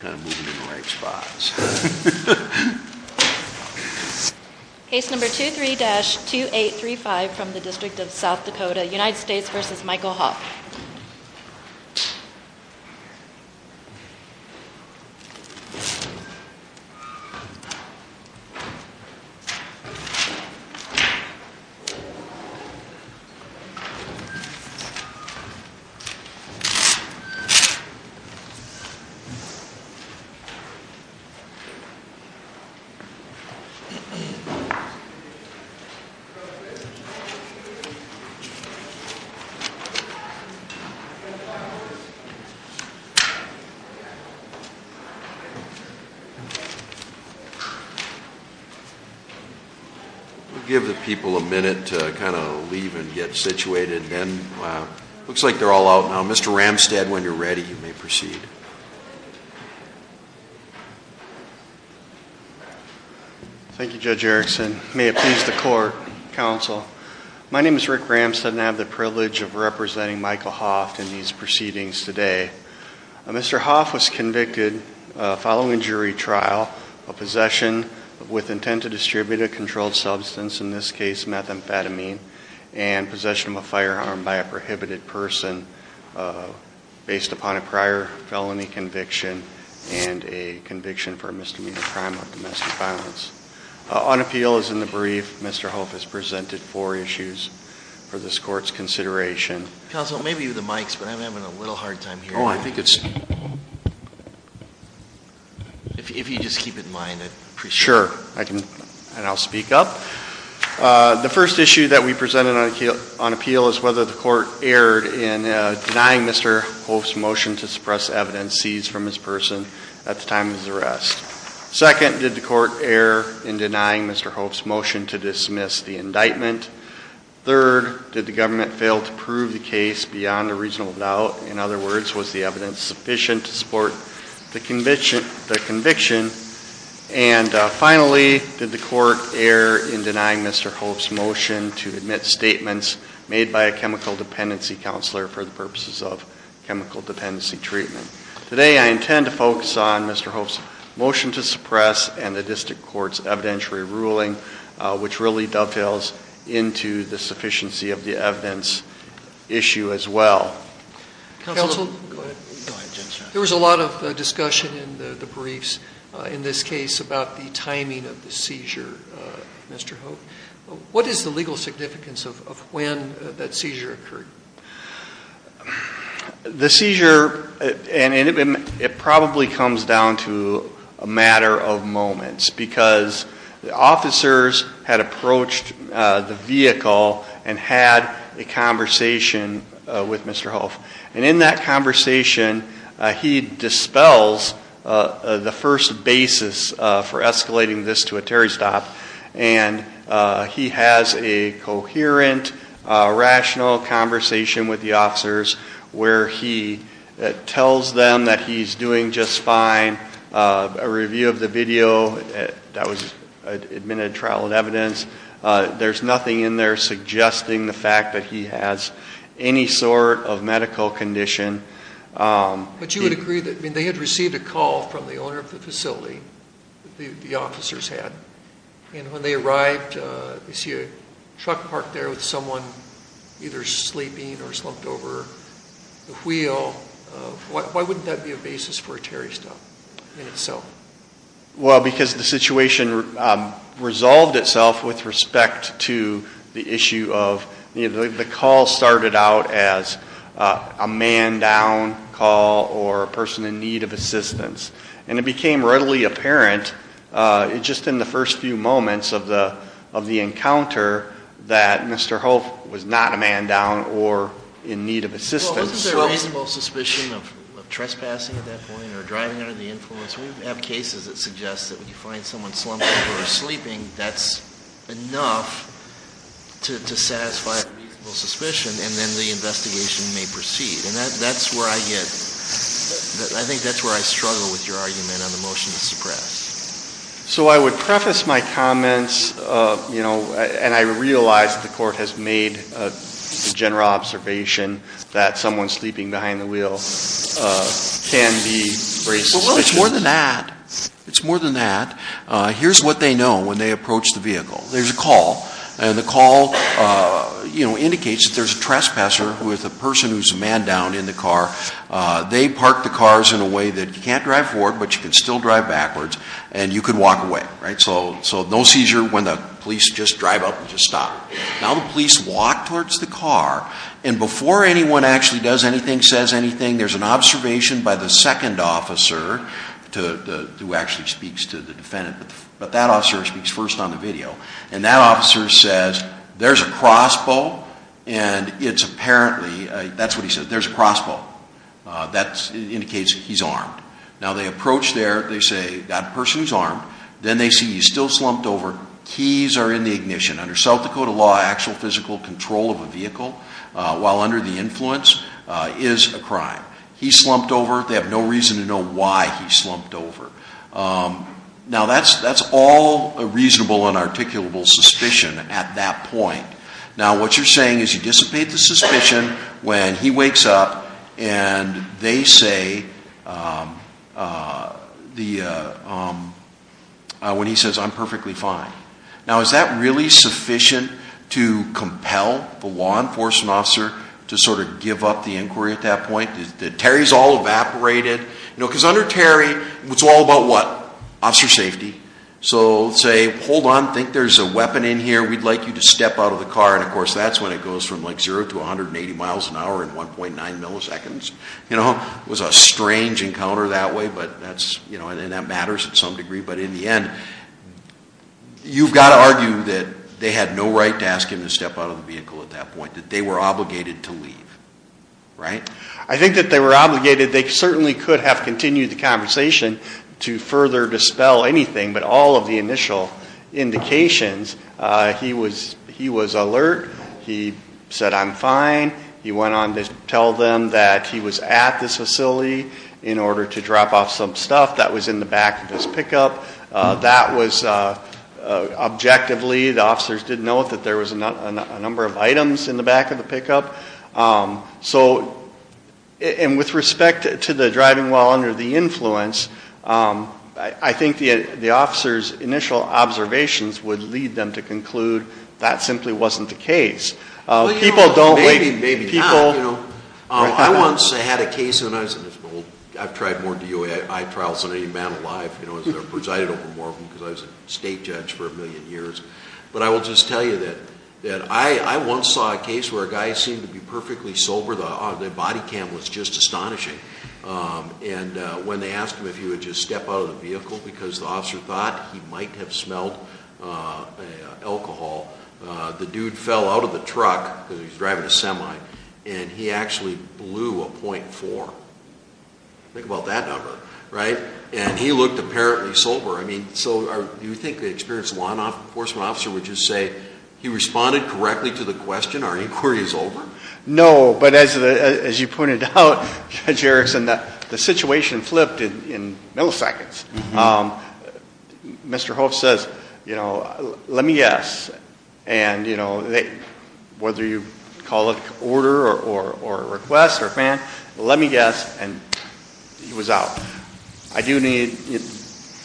Case number 23-2835 from the District of South Dakota, United States v. Michael Hoeft. We'll give the people a minute to kind of leave and get situated and looks like they're all out now. Mr. Ramstad, when you're ready, you may proceed. Thank you, Judge Erickson. May it please the court, counsel. My name is Rick Ramstad and I have the privilege of representing Michael Hoeft in these proceedings today. Mr. Hoeft was convicted following jury trial of possession with intent to distribute a controlled substance, in this case methamphetamine, and possession of a firearm by a prohibited person based upon a prior felony conviction and a conviction for a misdemeanor crime of domestic violence. On appeal, as in the brief, Mr. Hoeft has presented four issues for this court's consideration. Counsel, maybe the mics, but I'm having a little hard time hearing. Oh, I think it's... If you just keep it in mind, I'd appreciate it. Sure, and I'll speak up. The first issue that we presented on appeal is whether the court erred in denying Mr. Hoeft's motion to suppress evidence seized from this person at the time of his arrest. Second, did the court err in denying Mr. Hoeft's motion to dismiss the indictment? Third, did the government fail to prove the case beyond a reasonable doubt? In other words, was the evidence sufficient to support the conviction? And finally, did the court err in denying Mr. Hoeft's motion to admit statements made by a chemical dependency counselor for the purposes of chemical dependency treatment? Today, I intend to focus on Mr. Hoeft's motion to suppress and the district court's evidentiary ruling, which really dovetails into the sufficiency of the evidence issue as well. Counsel, there was a lot of discussion in the briefs in this case about the timing of the seizure, Mr. Hoeft. What is the legal significance of when that seizure occurred? The seizure, and it probably comes down to a matter of moments, because the officers had approached the vehicle and had a conversation with Mr. Hoeft. And in that conversation, he dispels the first basis for escalating this to a Terry stop. And he has a coherent, rational conversation with the officers where he tells them that he's doing just fine. A review of the video, that was admitted trial of evidence. There's nothing in there suggesting the fact that he has any sort of medical condition. But you would agree that they had received a call from the owner of the facility, the officers had. And when they arrived, they parked there with someone either sleeping or slumped over the wheel. Why wouldn't that be a basis for a Terry stop in itself? Well, because the situation resolved itself with respect to the issue of, the call started out as a man down call or a person in need of assistance. And it became readily apparent just in the first few moments of the encounter that Mr. Hoeft was not a man down or in need of assistance. Well, wasn't there reasonable suspicion of trespassing at that point or driving under the influence? We have cases that suggest that when you find someone slumping or sleeping, that's enough to satisfy a reasonable suspicion, and then the investigation may proceed. And that's where I get, I think that's where I struggle with your argument on the motion to suppress. So I would preface my argument by saying I realize the court has made a general observation that someone sleeping behind the wheel can be racist. Well, it's more than that. It's more than that. Here's what they know when they approach the vehicle. There's a call, and the call, you know, indicates that there's a trespasser with a person who's a man down in the car. They parked the cars in a way that you can't drive forward, but you can still drive backwards, and you can walk away, right? So no seizure when the police just drive up and just stop. Now the police walk towards the car, and before anyone actually does anything, says anything, there's an observation by the second officer, who actually speaks to the defendant, but that officer speaks first on the video. And that officer says, there's a crossbow, and it's apparently, that's what he says, there's a crossbow. That indicates he's armed. Now they approach there, they say, that person's armed. Then they see he's still slumped over. Keys are in the ignition. Under South Dakota law, actual physical control of a vehicle while under the influence is a crime. He slumped over. They have no reason to know why he slumped over. Now that's all a reasonable and articulable suspicion at that point. Now what you're saying is you dissipate the suspicion when he wakes up, and they say, when he says, I'm perfectly fine. Now is that really sufficient to compel the law enforcement officer to sort of give up the inquiry at that point? Terry's all evaporated. You know, because under Terry, it's all about what? Officer safety. So say, hold on, think there's a weapon in here, we'd like you to step out of the car, and of course that's when it goes from like 0 to 180 miles an hour in 1.9 milliseconds. You know, it was a strange encounter that way, but that's, you know, and that matters to some degree, but in the end, you've got to argue that they had no right to ask him to step out of the vehicle at that point. That they were obligated to leave. Right? I think that they were obligated, they certainly could have continued the conversation to further dispel anything but all of the initial indications. He was alert. He said, I'm fine. He went on to tell them that he was at this facility in order to drop off some stuff that was in the back of his pickup. That was objectively, the officers did note that there was a number of items in the back of the pickup. So, and with respect to the influence, I think the officers' initial observations would lead them to conclude that simply wasn't the case. People don't like, people... Maybe, maybe not. I once had a case, and I've tried more DOI trials than any man alive, you know, presided over more of them because I was a state judge for a million years. But I will just tell you that I once saw a case where a guy seemed to be perfectly sober, the body cam was just astonishing. And when they asked him if he would just step out of the vehicle because the officer thought he might have smelled alcohol, the dude fell out of the truck, because he was driving a semi, and he actually blew a .4. Think about that number. Right? And he looked apparently sober. I mean, so do you think the experienced law enforcement officer would just say, he responded correctly to the question, our inquiry is over? No, but as you pointed out, Judge Erickson, the situation flipped in milliseconds. Mr. Hoff says, you know, let me guess, and you know, whether you call it order or request or command, let me guess, and he was out. I do need,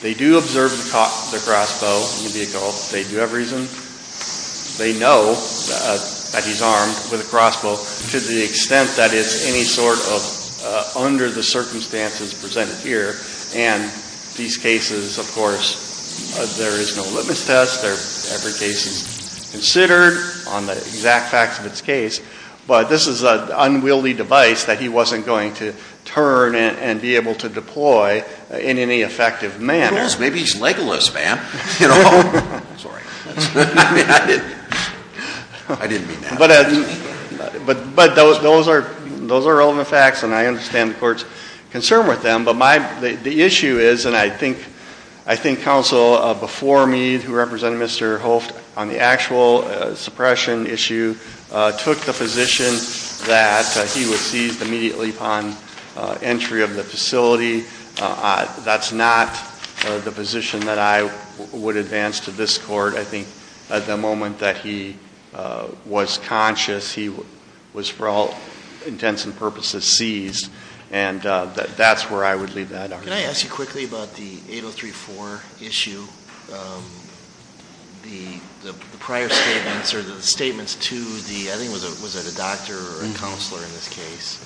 they do observe the crossbow in the vehicle. Do you have reason? They know that he's armed with a crossbow to the extent that it's any sort of under the circumstances presented here. And these cases, of course, there is no litmus test. Every case is considered on the exact facts of its case. But this is an unwieldy device that he wasn't going to turn and be able to deploy in any effective manner. Yes, maybe he's Legolas, man. You know? Sorry. I didn't mean that. But those are relevant facts, and I understand the court's concern with them. But the issue is, and I think counsel before me, who represented Mr. Hoft on the actual suppression issue, took the position that he was seized immediately upon entry of the facility. That's not the position that I would advance to this court. I think at the moment that he was conscious, he was for all intents and purposes seized, and that's where I would leave that argument. Can I ask you quickly about the 8034 issue? The prior statements or the statements to the, I think was it a doctor or a counselor in this case?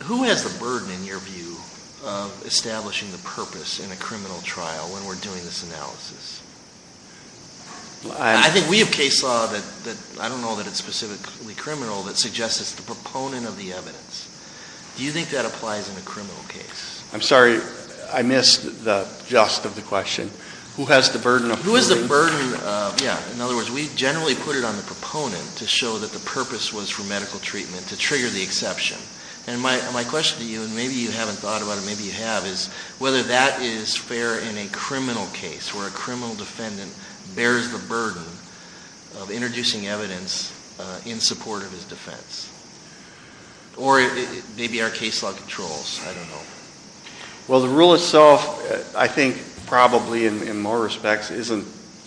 Who has the burden in your view of establishing the purpose in a criminal trial when we're doing this analysis? I think we have case law that, I don't know that it's specifically criminal, that suggests it's the proponent of the evidence. Do you think that applies in a criminal case? I'm sorry, I missed the gist of the question. Who has the burden of proving? Who has the burden of, yeah, in other words, we generally put it on the proponent to show that the purpose was for medical treatment to trigger the exception. And my question to you, and maybe you haven't thought about it, maybe you have, is whether that is fair in a criminal case where a criminal defendant bears the burden of introducing evidence in support of his defense. Or maybe our case law controls, I don't know. Well, the rule itself, I think probably in more respects isn't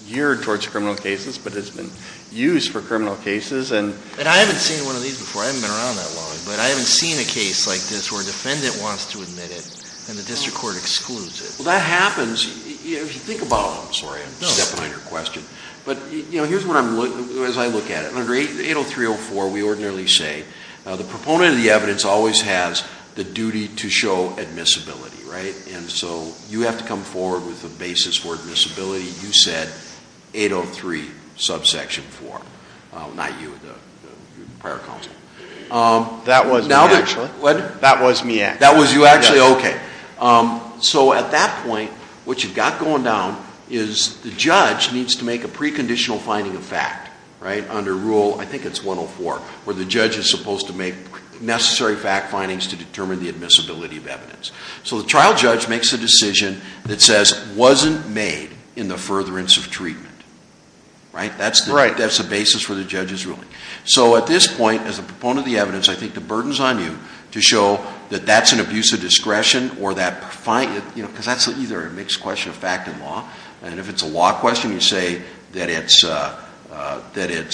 geared towards criminal cases, but it's been used for criminal cases. And I haven't seen one of these before, I haven't been around that long, but I haven't seen a case like this where a defendant wants to admit it and the district court excludes it. Well, that happens, if you think about it. I'm sorry, I'm a step behind your question. But here's what I'm looking, as I look at it. Under 803.04, we ordinarily say the proponent of the evidence always has the duty to show admissibility, right? And so you have to come forward with a basis for admissibility. You said 803 subsection 4, not you, the prior counsel. That was me actually. That was you actually, okay. So at that point, what you've got going down is the judge needs to make a preconditional finding of fact, right? Under rule, I think it's 104, where the judge is supposed to make necessary fact findings to determine the admissibility of evidence. So the trial judge makes a decision that says wasn't made in the furtherance of treatment, right? That's the basis for the judge's ruling. So at this point, as a proponent of the evidence, I think the burden's on you to show that that's an abuse of discretion or that finding, you know, because that's either a mixed question of fact and law. And if it's a law question, you say that it's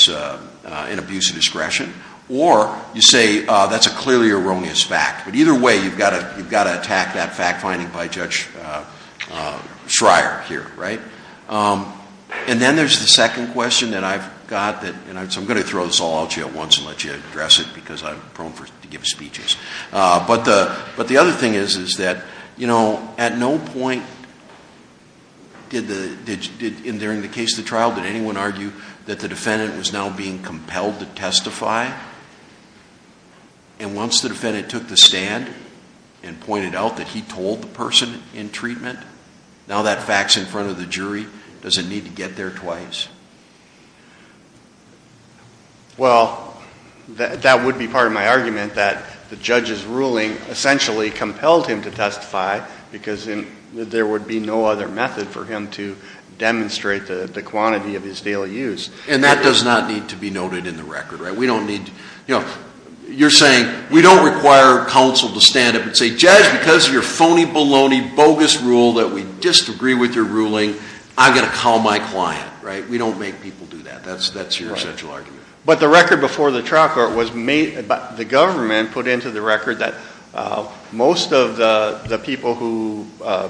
an abuse of discretion. Or you say that's a clearly erroneous fact. But either way, you've got to attack that fact finding by Judge Schreier here, right? And then there's the second question that I've got that, and so I'm going to throw this all out to you at once and let you address it because I'm prone to give speeches. But the other thing is, is that, you know, at no point did, in the case of the trial, did anyone argue that the defendant was now being compelled to testify? And once the defendant took the stand and pointed out that he told the person in treatment, now that fact's in front of the jury, does it need to get there otherwise? Well, that would be part of my argument that the judge's ruling essentially compelled him to testify because there would be no other method for him to demonstrate the quantity of his daily use. And that does not need to be noted in the record, right? We don't need to, you know, you're saying we don't require counsel to stand up and say, Judge, because of your phony argument, right? We don't make people do that. That's your essential argument. But the record before the trial court was made, the government put into the record that most of the people who are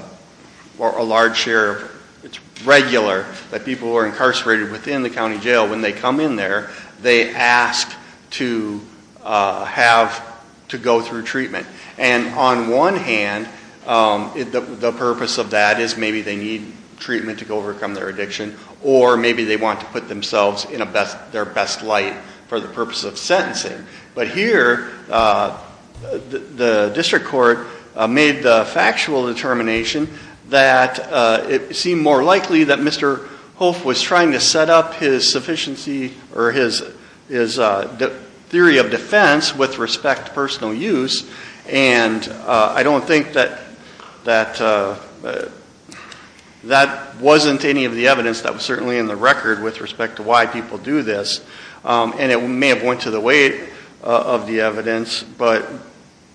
a large share of, it's regular, that people who are incarcerated within the county jail, when they come in there, they ask to have, to go through treatment. And on one hand, the purpose of that is maybe they need treatment to overcome their addiction or maybe they want to put themselves in their best light for the purpose of sentencing. But here, the district court made the factual determination that it seemed more likely that Mr. Holf was trying to set up his sufficiency or his theory of defense with respect to personal use and I don't think that that wasn't any of the evidence that he had. That was certainly in the record with respect to why people do this. And it may have went to the weight of the evidence, but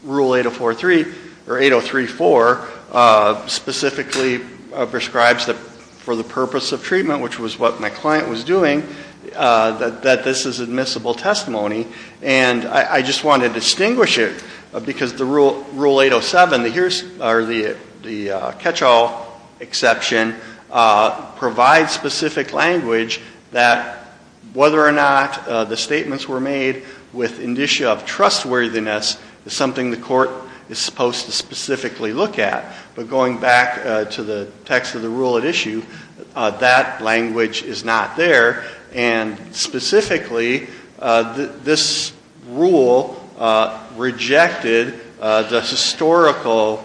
Rule 803.4 specifically prescribes that for the purpose of treatment, which was what my client was doing, that this is admissible testimony. And I just wanted to distinguish it because the Rule 807, the catch-all exception, provides specific language that whether or not the statements were made with indicia of trustworthiness is something the court is supposed to specifically look at. But going back to the text of the rule at issue, that language is not there. And specifically, this rule rejected the historical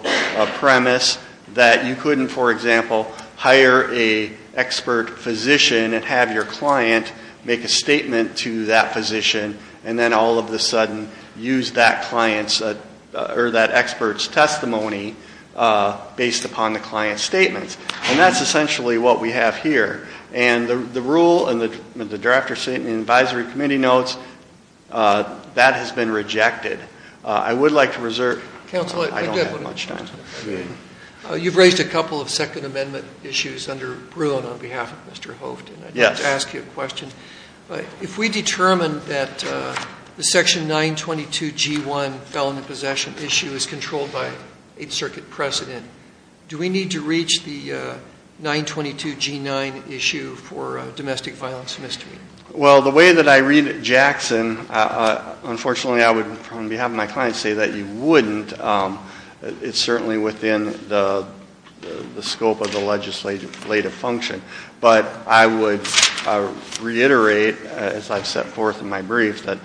premise that you couldn't, for example, hire an expert physician and have your client make a statement to that physician and then all of a sudden use that client's or that expert's testimony based upon the client's statements. And that's essentially what we have here. And the rule and the draft advisory committee notes, that has been rejected. I would like to reserve. Counsel, I don't have much time. You've raised a couple of Second Amendment issues under Bruin on behalf of Mr. Hoeften. Yes. I'd like to ask you a question. If we determine that the section 922G1, felon in possession issue is controlled by Eighth Circuit precedent, do we need to reach the 922G9 issue for domestic violence misdemeanor? Well, the way that I read it, Jackson, unfortunately, I would, on behalf of my client, say that you wouldn't. It's certainly within the scope of the legislative function. But I would reiterate as I've set forth in my brief that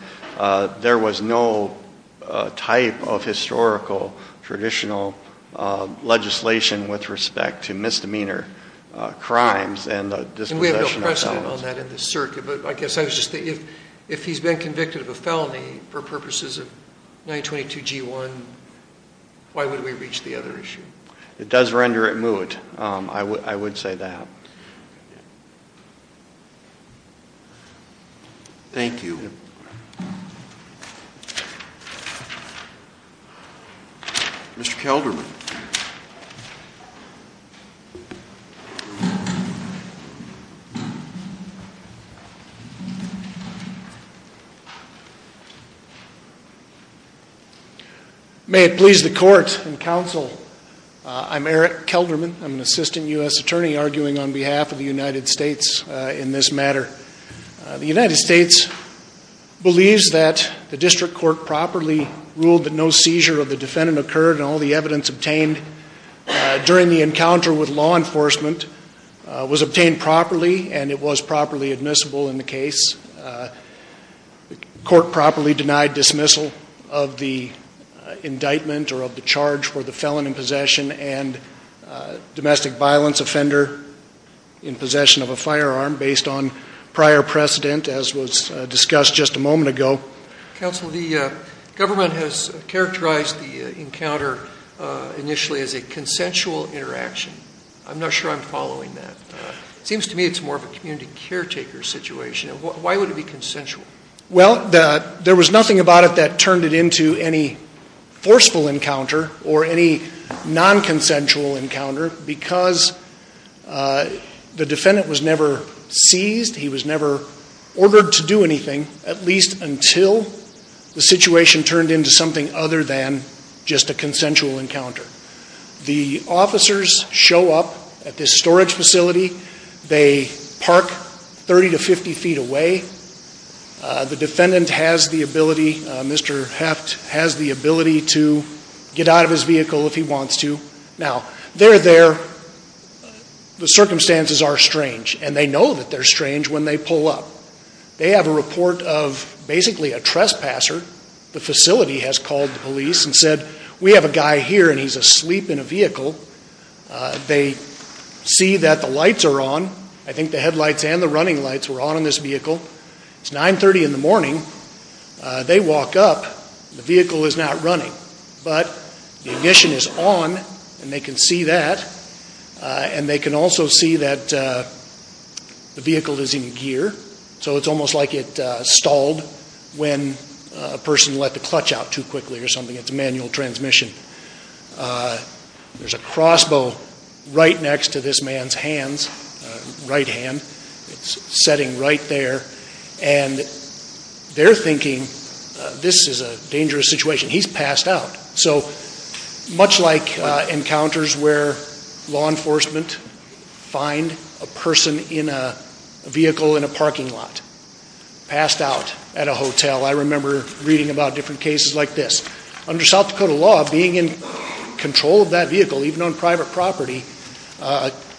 there was no type of historical traditional legislation with respect to misdemeanor crimes and the dispossession of felons. I don't have all that in the circuit. But I guess I was just thinking, if he's been convicted of a felony for purposes of 922G1, why would we reach the other issue? It does render it moot. I would say that. Thank you. Mr. Kelderman. May it please the court and counsel, I'm Eric Kelderman. I'm an assistant U.S. attorney arguing on behalf of the United States in this matter. The United States believes that the district court properly ruled that no seizure of the defendant occurred and all the evidence obtained during the encounter with law enforcement was obtained properly and it was properly admissible in the case. The court properly denied dismissal of the indictment or of the charge for the felon in possession and domestic violence offender in possession of a firearm based on prior precedent as was discussed just a moment ago. Counsel, the government has characterized the encounter initially as a consensual interaction. I'm not sure I'm following that. It seems to me it's more of a community caretaker situation. Why would it be consensual? Well, there was nothing about it that turned it into any forceful encounter or any non-consensual encounter because the defendant was never seized. He was never ordered to do anything at least until the situation turned into something other than just a consensual encounter. The officers show up at this storage facility. They park 30 to 50 feet away. The defendant has the ability, Mr. Heft has the ability to get out of his vehicle if he wants to. Now they're there. The circumstances are strange and they know that they're strange when they pull up. They have a report of basically a trespasser. The facility has called the police and said, we have a guy here and he's asleep in a vehicle. They see that the lights are on. I think the headlights and the running lights were on in this vehicle. It's 9.30 in the morning. They walk up. The vehicle is not running. But the ignition is on and they can see that. And they can also see that the vehicle is in gear. So it's almost like it stalled when a person let the clutch out too quickly or something. It's a manual transmission. There's a crossbow right next to this man's hands, right hand. It's setting right there. And they're thinking this is a dangerous situation. He's passed out. So much like encounters where law enforcement find a person in a vehicle in a parking lot, passed out at a hotel. I remember reading about different cases like this. Under South Dakota law, being in control of that vehicle, even on private property,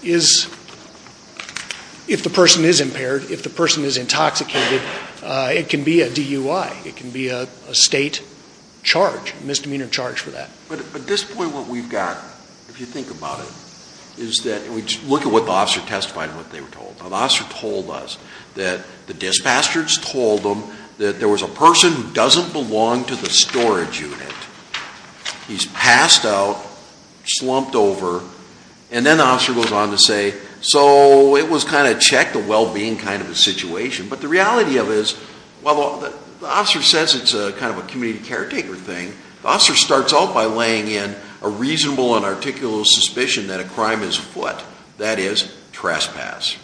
is, if the person is impaired, if the person is intoxicated, it can be a DUI. It can be a state charge, misdemeanor charge for that. But at this point what we've got, if you think about it, is that, and we look at what the officer testified and what they were told. Now the officer told us that the dispastors told them that there was a person who doesn't belong to the storage unit. He's passed out, slumped over, and then the officer goes on to say, so it was kind of checked the well-being kind of a situation. But the reality of it is, while the officer says it's a kind of a community caretaker thing, the officer starts out by laying in a reasonable and articulate suspicion that a crime is foot. That is, trespass.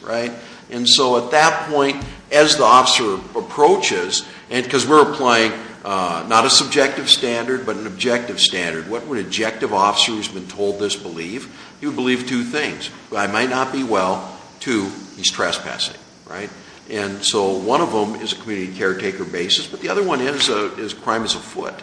And so at that point, as the officer approaches, because we're applying not a subjective standard but an objective standard, what would an objective officer who's been told this believe? He would believe two things. One, it might not be well. Two, he's trespassing. And so one of them is a community caretaker basis, but the other one is crime is a foot.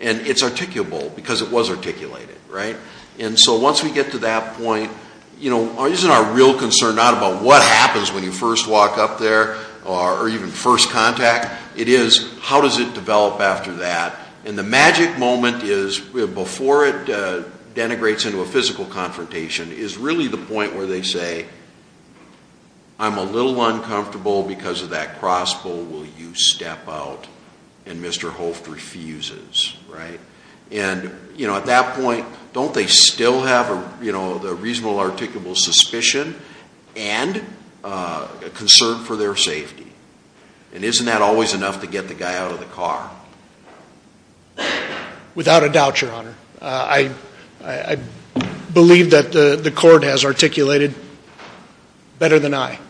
And it's articulable because it was articulated, right? And so once we get to that point, isn't our real concern not about what happens when you first walk up there or even first contact? It is how does it develop after that? And the magic moment is before it denigrates into a physical confrontation is really the point where they say, I'm a little uncomfortable because of that crossbow. Will you step out? And Mr. Holt refuses, right? And, you know, at that point, don't they still have, you know, the reasonable articulable suspicion and a concern for their safety? And isn't that always enough to get the guy out of the car? Without a doubt, Your Honor. I believe that the court has articulated better than I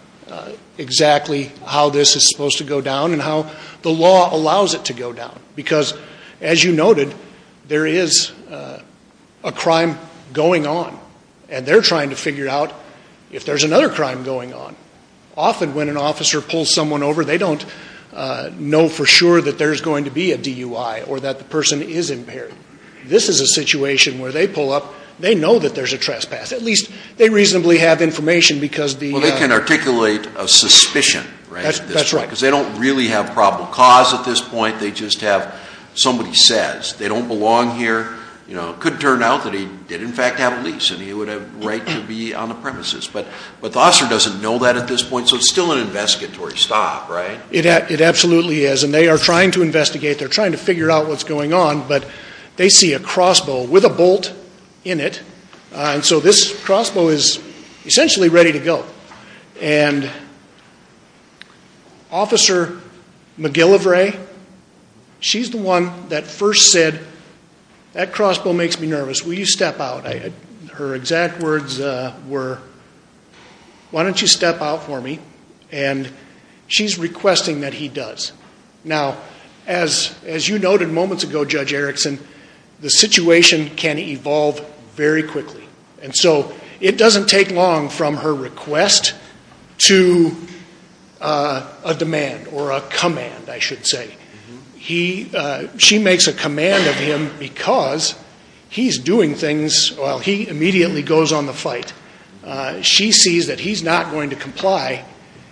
exactly how this is supposed to go down and how the law allows it to go down. Because as you noted, there is a crime going on, and they're trying to figure out if there's another crime going on. Often when an officer pulls someone over, they don't know for sure that there's going to be a DUI or that the person is impaired. This is a situation where they pull up, they know that there's a trespass. At least they reasonably have information because the — That's right. Because they don't really have probable cause at this point. They just have somebody says. They don't belong here. You know, it could turn out that he did in fact have a lease and he would have the right to be on the premises. But the officer doesn't know that at this point, so it's still an investigatory stop, right? It absolutely is. And they are trying to investigate. They're trying to figure out what's going on. But they see a crossbow with a bolt in it. And so this crossbow is essentially ready to go. And Officer McGillivray, she's the one that first said, that crossbow makes me nervous. Will you step out? Her exact words were, why don't you step out for me? And she's requesting that he does. Now, as you noted moments ago, Judge Erickson, the situation can evolve very quickly. And so it doesn't take long from her request to a demand or a command, I should say. She makes a command of him because he's doing things — well, he immediately goes on the fight. She sees that he's not going to comply.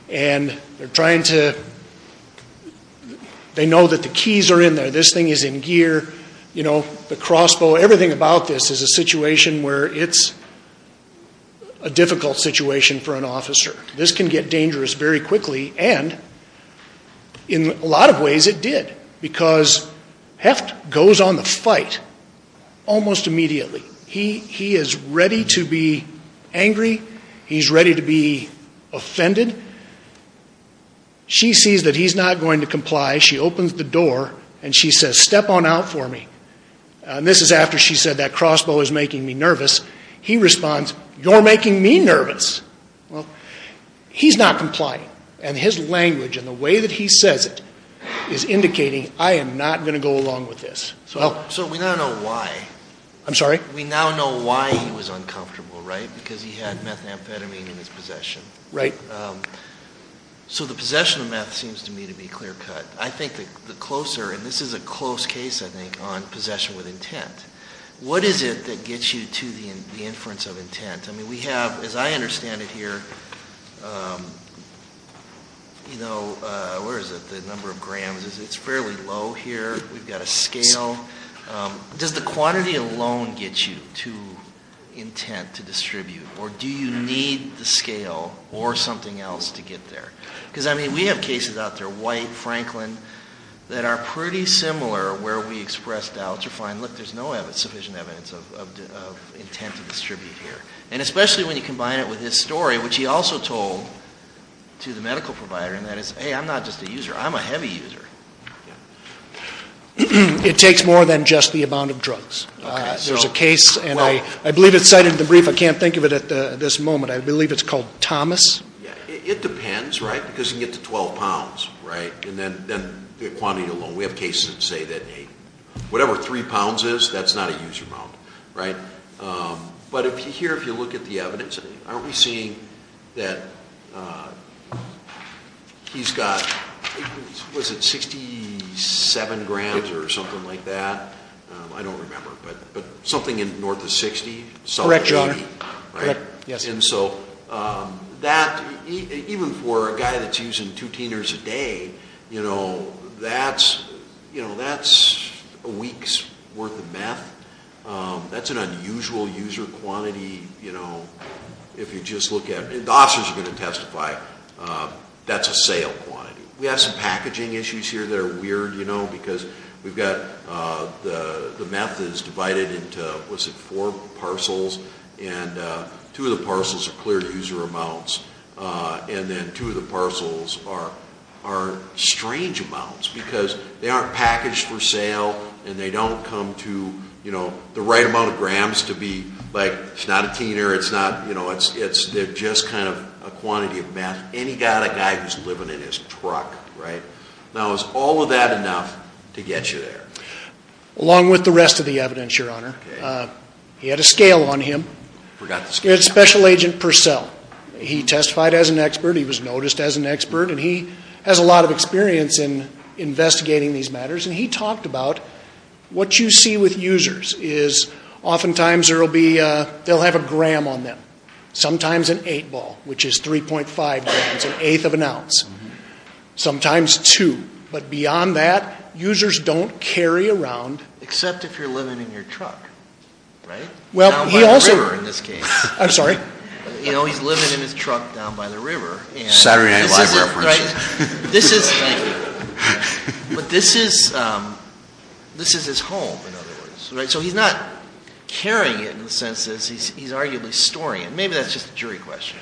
And they're trying to — they know that the keys are in there. This thing is in gear. You know, the crossbow, everything about this is a situation where it's a difficult situation for an officer. This can get dangerous very quickly. And in a lot of ways, it did. Because Heft goes on the fight almost immediately. He is ready to be angry. He's ready to be offended. She sees that he's not going to comply. She opens the door. And she says, step on out for me. This is after she said, that crossbow is making me nervous. He responds, you're making me nervous. Well, he's not complying. And his language and the way that he says it is indicating, I am not going to go along with this. So we now know why. I'm sorry? We now know why he was uncomfortable, right? Because he had methamphetamine in his possession. Right. So the possession of meth seems to me to be clear-cut. I think the closer — and this is a close case, I think, on possession with intent. What is it that gets you to the inference of intent? I mean, we have, as I understand it here, you know, where is it? The number of grams. It's fairly low here. We've got a scale. Does the quantity alone get you to intent to distribute? Or do you need the scale or something else to get there? Because, I mean, we have cases out there, White, Franklin, that are pretty similar where we expressed doubts or find, look, there's no sufficient evidence of intent to distribute here. And especially when you combine it with his story, which he also told to the medical provider, and that is, hey, I'm not just a user. I'm a heavy user. It takes more than just the amount of drugs. There's a case, and I believe it's cited in the brief. I can't think of it at this moment. I believe it's called Thomas. It depends, right? Because you can get to 12 pounds, right? And then the quantity alone. We have cases that say that, hey, whatever 3 pounds is, that's not a user amount, right? But here, if you look at the evidence, aren't we seeing that he's got, what is it, 67 grams or something like that? I don't remember. But something in north of 60, south of 80. Correct, Your Honor. And so that, even for a guy that's using two teeners a day, that's a week's worth of meth. That's an unusual user quantity, you know, if you just look at it. The officers are going to testify. That's a sale quantity. We have some packaging issues here that are weird, you know, because we've got the meth is divided into, what's it, four parcels? And two of the parcels are cleared user amounts. And then two of the parcels are strange amounts, because they aren't packaged for sale, and they don't come to, you know, the right amount of grams to be, like, it's not a teener, it's not, you know, it's, they're just kind of a quantity of meth. And he got a guy who's living in his truck, right? Now is all of that enough to get you there? Along with the rest of the evidence, Your Honor. He had a scale on him. I forgot the scale. He had a special agent per cell. He testified as an expert. He was noticed as an expert. And he has a lot of experience in investigating these matters. And he talked about what you see with users is oftentimes there will be, they'll have a gram on them. Sometimes an eight ball, which is 3.5 grams, an eighth of an ounce. Sometimes two. But beyond that, users don't carry around... Except if you're living in your truck, right? Well, he also... Down by the river in this case. I'm sorry? You know, he's living in his truck down by the river. Saturday Night Live references. Thank you. But this is his home, in other words, right? So he's not carrying it in the sense that he's arguably storing it. Maybe that's just a jury question.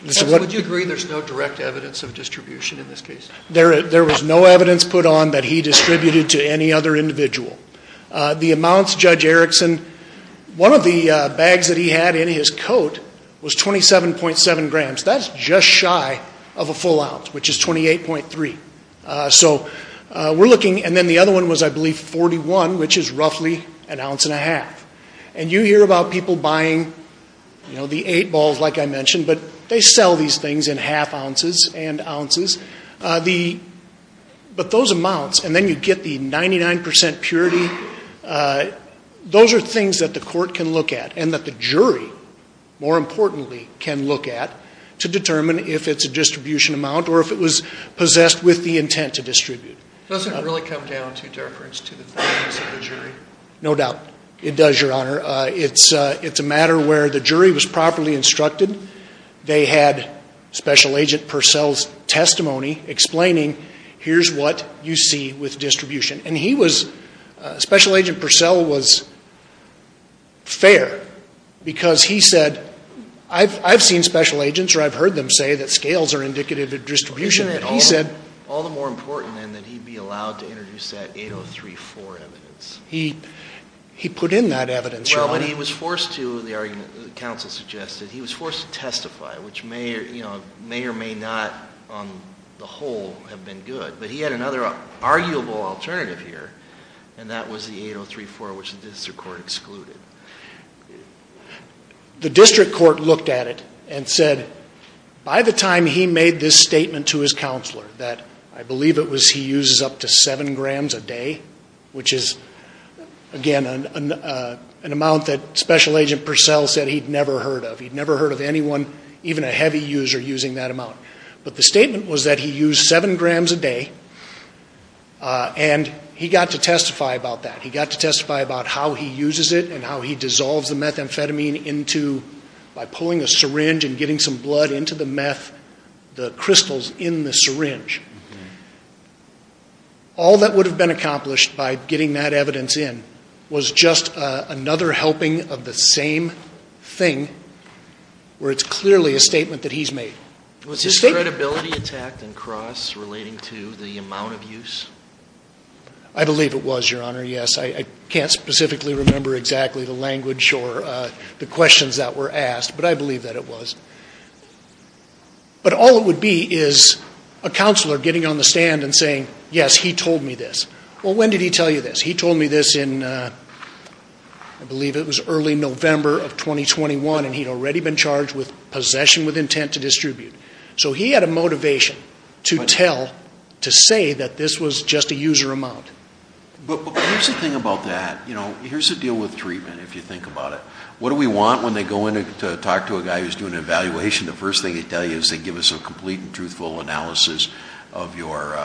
Would you agree there's no direct evidence of distribution in this case? There was no evidence put on that he distributed to any other individual. The amounts, Judge Erickson, one of the bags that he had in his coat was 27.7 grams. That's just shy of a full ounce, which is 28.3. So we're looking... And then the other one was, I believe, 41, which is roughly an ounce and a half. And you hear about people buying the eight balls, like I mentioned, but they sell these things in half ounces and ounces. But those amounts, and then you get the 99% purity. Those are things that the court can look at and that the jury, more importantly, can look at to determine if it's a distribution amount or if it was possessed with the intent to distribute. Does it really come down to deference to the fairness of the jury? No doubt it does, Your Honor. It's a matter where the jury was properly instructed. They had Special Agent Purcell's testimony explaining, here's what you see with distribution. Special Agent Purcell was fair because he said, I've seen special agents or I've heard them say that scales are indicative of distribution. Isn't it all the more important then that he be allowed to introduce that 8034 evidence? He put in that evidence, Your Honor. Well, but he was forced to, the argument the counsel suggested, he was forced to testify, which may or may not, on the whole, have been good. But he had another arguable alternative here, and that was the 8034, which the district court excluded. The district court looked at it and said, by the time he made this statement to his counselor, that I believe it was he uses up to seven grams a day, which is, again, an amount that Special Agent Purcell said he'd never heard of. He'd never heard of anyone, even a heavy user, using that amount. But the statement was that he used seven grams a day, and he got to testify about that. He got to testify about how he uses it and how he dissolves the methamphetamine into, by pulling a syringe and getting some blood into the meth, the crystals in the syringe. All that would have been accomplished by getting that evidence in was just another helping of the same thing, where it's clearly a statement that he's made. Was this credibility attacked in cross relating to the amount of use? I believe it was, Your Honor, yes. I can't specifically remember exactly the language or the questions that were asked, but I believe that it was. But all it would be is a counselor getting on the stand and saying, yes, he told me this. Well, when did he tell you this? He told me this in, I believe it was early November of 2021, and he'd already been charged with possession with intent to distribute. So he had a motivation to tell, to say that this was just a user amount. But here's the thing about that. Here's the deal with treatment, if you think about it. What do we want when they go in to talk to a guy who's doing an evaluation? The first thing they tell you is they give us a complete and truthful analysis of your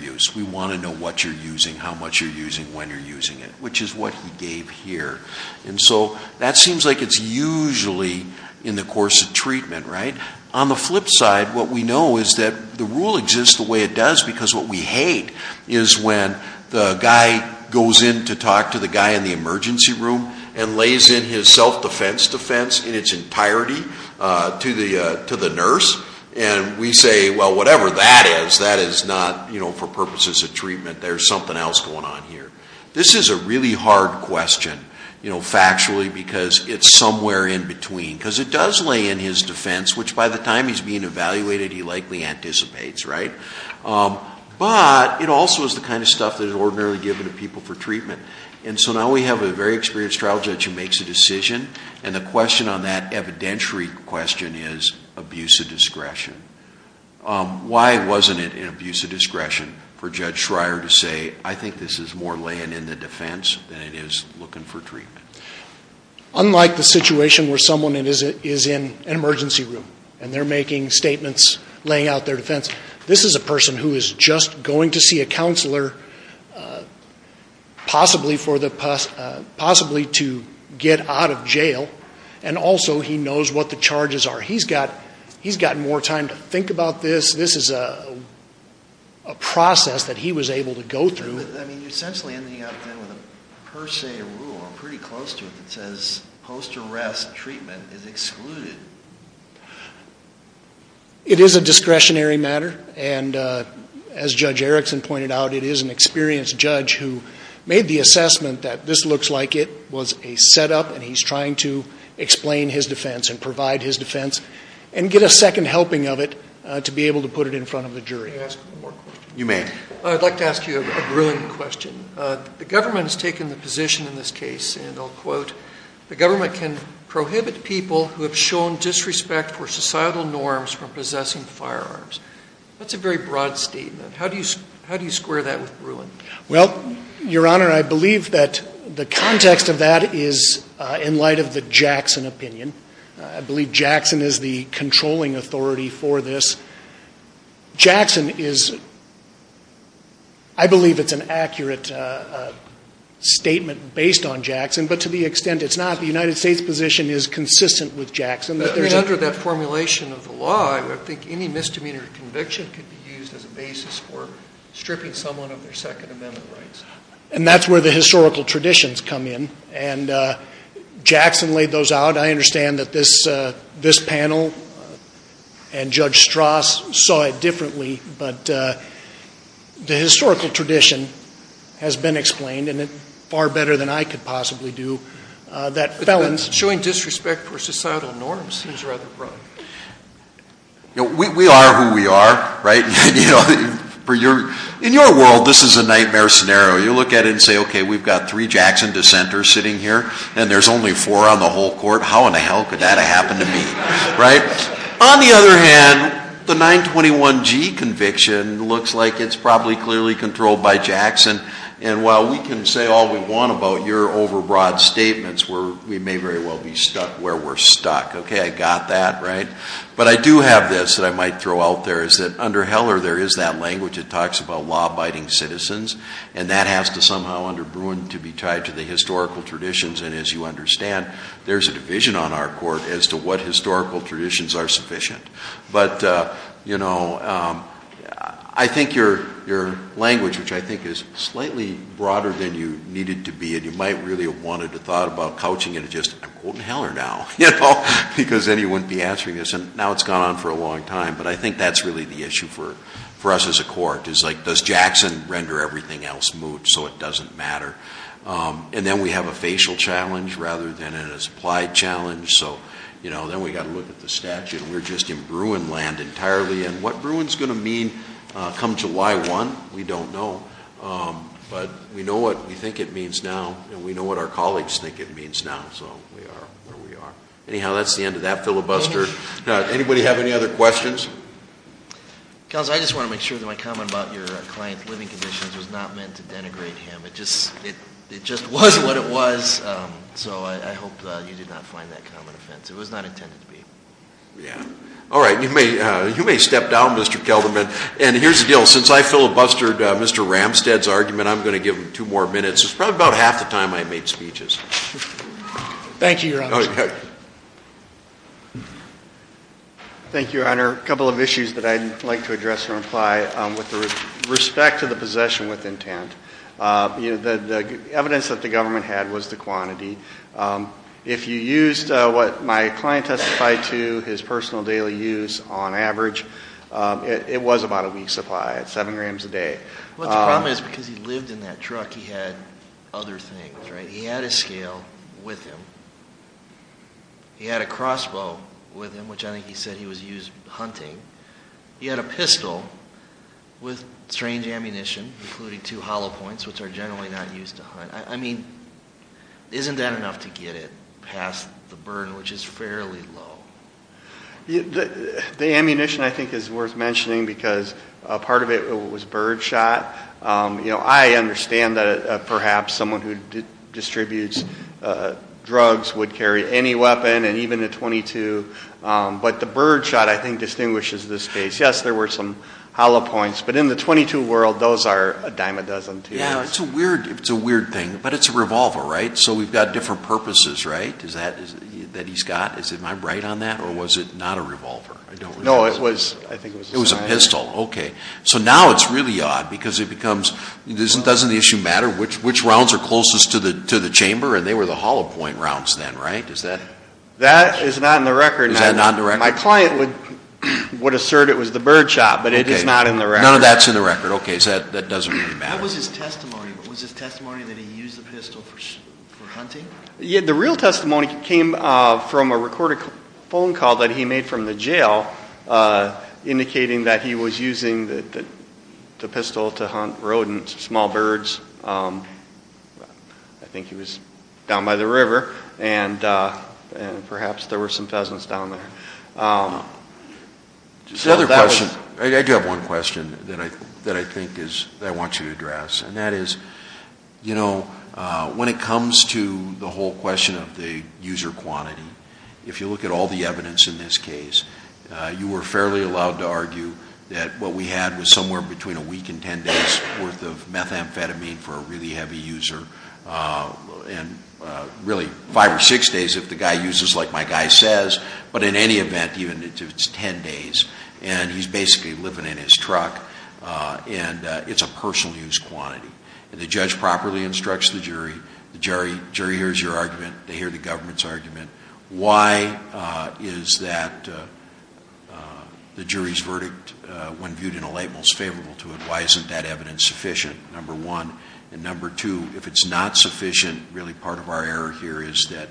use. We want to know what you're using, how much you're using, when you're using it, which is what he gave here. And so that seems like it's usually in the course of treatment, right? On the flip side, what we know is that the rule exists the way it does, because what we hate is when the guy goes in to talk to the guy in the emergency room and lays in his self-defense defense in its entirety to the nurse, and we say, well, whatever that is, that is not, you know, for purposes of treatment. There's something else going on here. This is a really hard question, you know, factually, because it's somewhere in between. Because it does lay in his defense, which by the time he's being evaluated, he likely anticipates, right? But it also is the kind of stuff that is ordinarily given to people for treatment. And so now we have a very experienced trial judge who makes a decision, and the question on that evidentiary question is abuse of discretion. Why wasn't it in abuse of discretion for Judge Schreier to say, I think this is more laying in the defense than it is looking for treatment? Unlike the situation where someone is in an emergency room and they're making statements laying out their defense, this is a person who is just going to see a counselor possibly to get out of jail, and also he knows what the charges are. He's got more time to think about this. This is a process that he was able to go through. I mean, you're essentially ending up then with a per se rule. I'm pretty close to it that says post-arrest treatment is excluded. It is a discretionary matter, and as Judge Erickson pointed out, it is an experienced judge who made the assessment that this looks like it was a setup, and he's trying to explain his defense and provide his defense and get a second helping of it to be able to put it in front of the jury. May I ask one more question? You may. I'd like to ask you a Bruin question. The government has taken the position in this case, and I'll quote, the government can prohibit people who have shown disrespect for societal norms from possessing firearms. That's a very broad statement. How do you square that with Bruin? Well, Your Honor, I believe that the context of that is in light of the Jackson opinion. I believe Jackson is the controlling authority for this. Jackson is — I believe it's an accurate statement based on Jackson, but to the extent it's not, the United States position is consistent with Jackson. Under that formulation of the law, I don't think any misdemeanor conviction could be used as a basis for stripping someone of their Second Amendment rights. And that's where the historical traditions come in, and Jackson laid those out. I understand that this panel and Judge Strauss saw it differently, but the historical tradition has been explained, and far better than I could possibly do, that felons — But showing disrespect for societal norms seems rather broad. We are who we are, right? In your world, this is a nightmare scenario. You look at it and say, okay, we've got three Jackson dissenters sitting here, and there's only four on the whole court. How in the hell could that have happened to me? On the other hand, the 921G conviction looks like it's probably clearly controlled by Jackson, and while we can say all we want about your overbroad statements, we may very well be stuck where we're stuck. Okay, I got that, right? But I do have this that I might throw out there, is that under Heller there is that language that talks about law-abiding citizens, and that has to somehow under Bruin to be tied to the historical traditions, and as you understand, there's a division on our court as to what historical traditions are sufficient. But, you know, I think your language, which I think is slightly broader than you need it to be, and you might really have wanted to have thought about couching it, and just, I'm quoting Heller now, you know, because then he wouldn't be answering this, and now it's gone on for a long time, but I think that's really the issue for us as a court, is like, does Jackson render everything else moot so it doesn't matter? And then we have a facial challenge rather than a supplied challenge, so, you know, then we've got to look at the statute. We're just in Bruin land entirely, and what Bruin's going to mean come July 1, we don't know, but we know what we think it means now, and we know what our colleagues think it means now, so we are where we are. Anyhow, that's the end of that filibuster. Anybody have any other questions? Counsel, I just want to make sure that my comment about your client's living conditions was not meant to denigrate him. It just was what it was, so I hope you did not find that common offense. It was not intended to be. Yeah. All right, you may step down, Mr. Kelderman, and here's the deal. Since I filibustered Mr. Ramstad's argument, I'm going to give him two more minutes. It's probably about half the time I made speeches. Thank you, Your Honor. Thank you, Your Honor. A couple of issues that I'd like to address and reply with respect to the possession with intent. The evidence that the government had was the quantity. If you used what my client testified to, his personal daily use on average, it was about a week's supply, seven grams a day. Well, the problem is because he lived in that truck, he had other things, right? He had a scale with him. He had a crossbow with him, which I think he said he was used hunting. He had a pistol with strange ammunition, including two hollow points, which are generally not used to hunt. I mean, isn't that enough to get it past the burden, which is fairly low? The ammunition, I think, is worth mentioning because part of it was birdshot. I understand that perhaps someone who distributes drugs would carry any weapon, and even a .22. But the birdshot, I think, distinguishes this case. Yes, there were some hollow points, but in the .22 world, those are a dime a dozen. Yes, it's a weird thing, but it's a revolver, right? So we've got different purposes, right, that he's got? Am I right on that, or was it not a revolver? No, I think it was a pistol. It was a pistol, okay. So now it's really odd because it becomes, doesn't the issue matter which rounds are closest to the chamber? And they were the hollow point rounds then, right? That is not in the record. Is that not in the record? My client would assert it was the birdshot, but it is not in the record. None of that's in the record. Okay, so that doesn't really matter. What was his testimony? Was his testimony that he used the pistol for hunting? The real testimony came from a recorded phone call that he made from the jail, indicating that he was using the pistol to hunt rodents, small birds. I think he was down by the river, and perhaps there were some pheasants down there. The other question, I do have one question that I think I want you to address, and that is, you know, when it comes to the whole question of the user quantity, if you look at all the evidence in this case, you were fairly allowed to argue that what we had was somewhere between a week and ten days' worth of methamphetamine for a really heavy user, and really five or six days if the guy uses like my guy says, but in any event, even if it's ten days, and he's basically living in his truck, and it's a personal use quantity. If the judge properly instructs the jury, the jury hears your argument, they hear the government's argument. Why is that the jury's verdict, when viewed in a light, most favorable to it? Why isn't that evidence sufficient, number one? And number two, if it's not sufficient, really part of our error here is that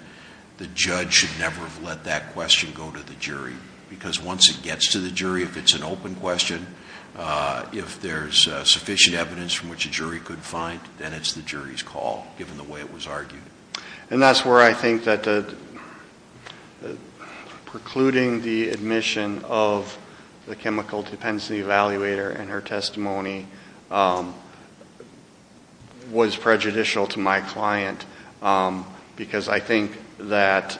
the judge should never have let that question go to the jury, because once it gets to the jury, if it's an open question, if there's sufficient evidence from which a jury could find, then it's the jury's call, given the way it was argued. And that's where I think that precluding the admission of the chemical dependency evaluator and her testimony was prejudicial to my client, because I think that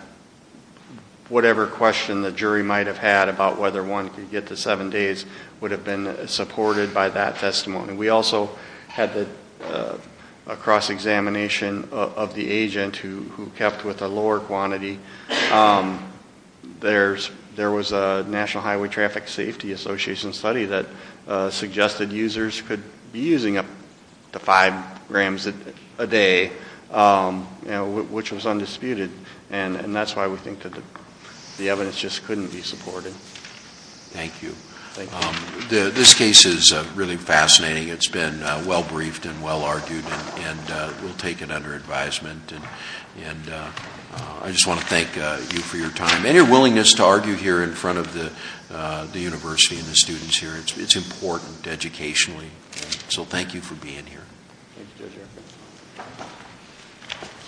whatever question the jury might have had about whether one could get to seven days would have been supported by that testimony. We also had a cross-examination of the agent who kept with a lower quantity. There was a National Highway Traffic Safety Association study that suggested users could be using up to five grams a day, which was undisputed. And that's why we think that the evidence just couldn't be supported. Thank you. Thank you. This case is really fascinating. It's been well-briefed and well-argued, and we'll take it under advisement. And I just want to thank you for your time and your willingness to argue here in front of the university and the students here. It's important educationally. So thank you for being here.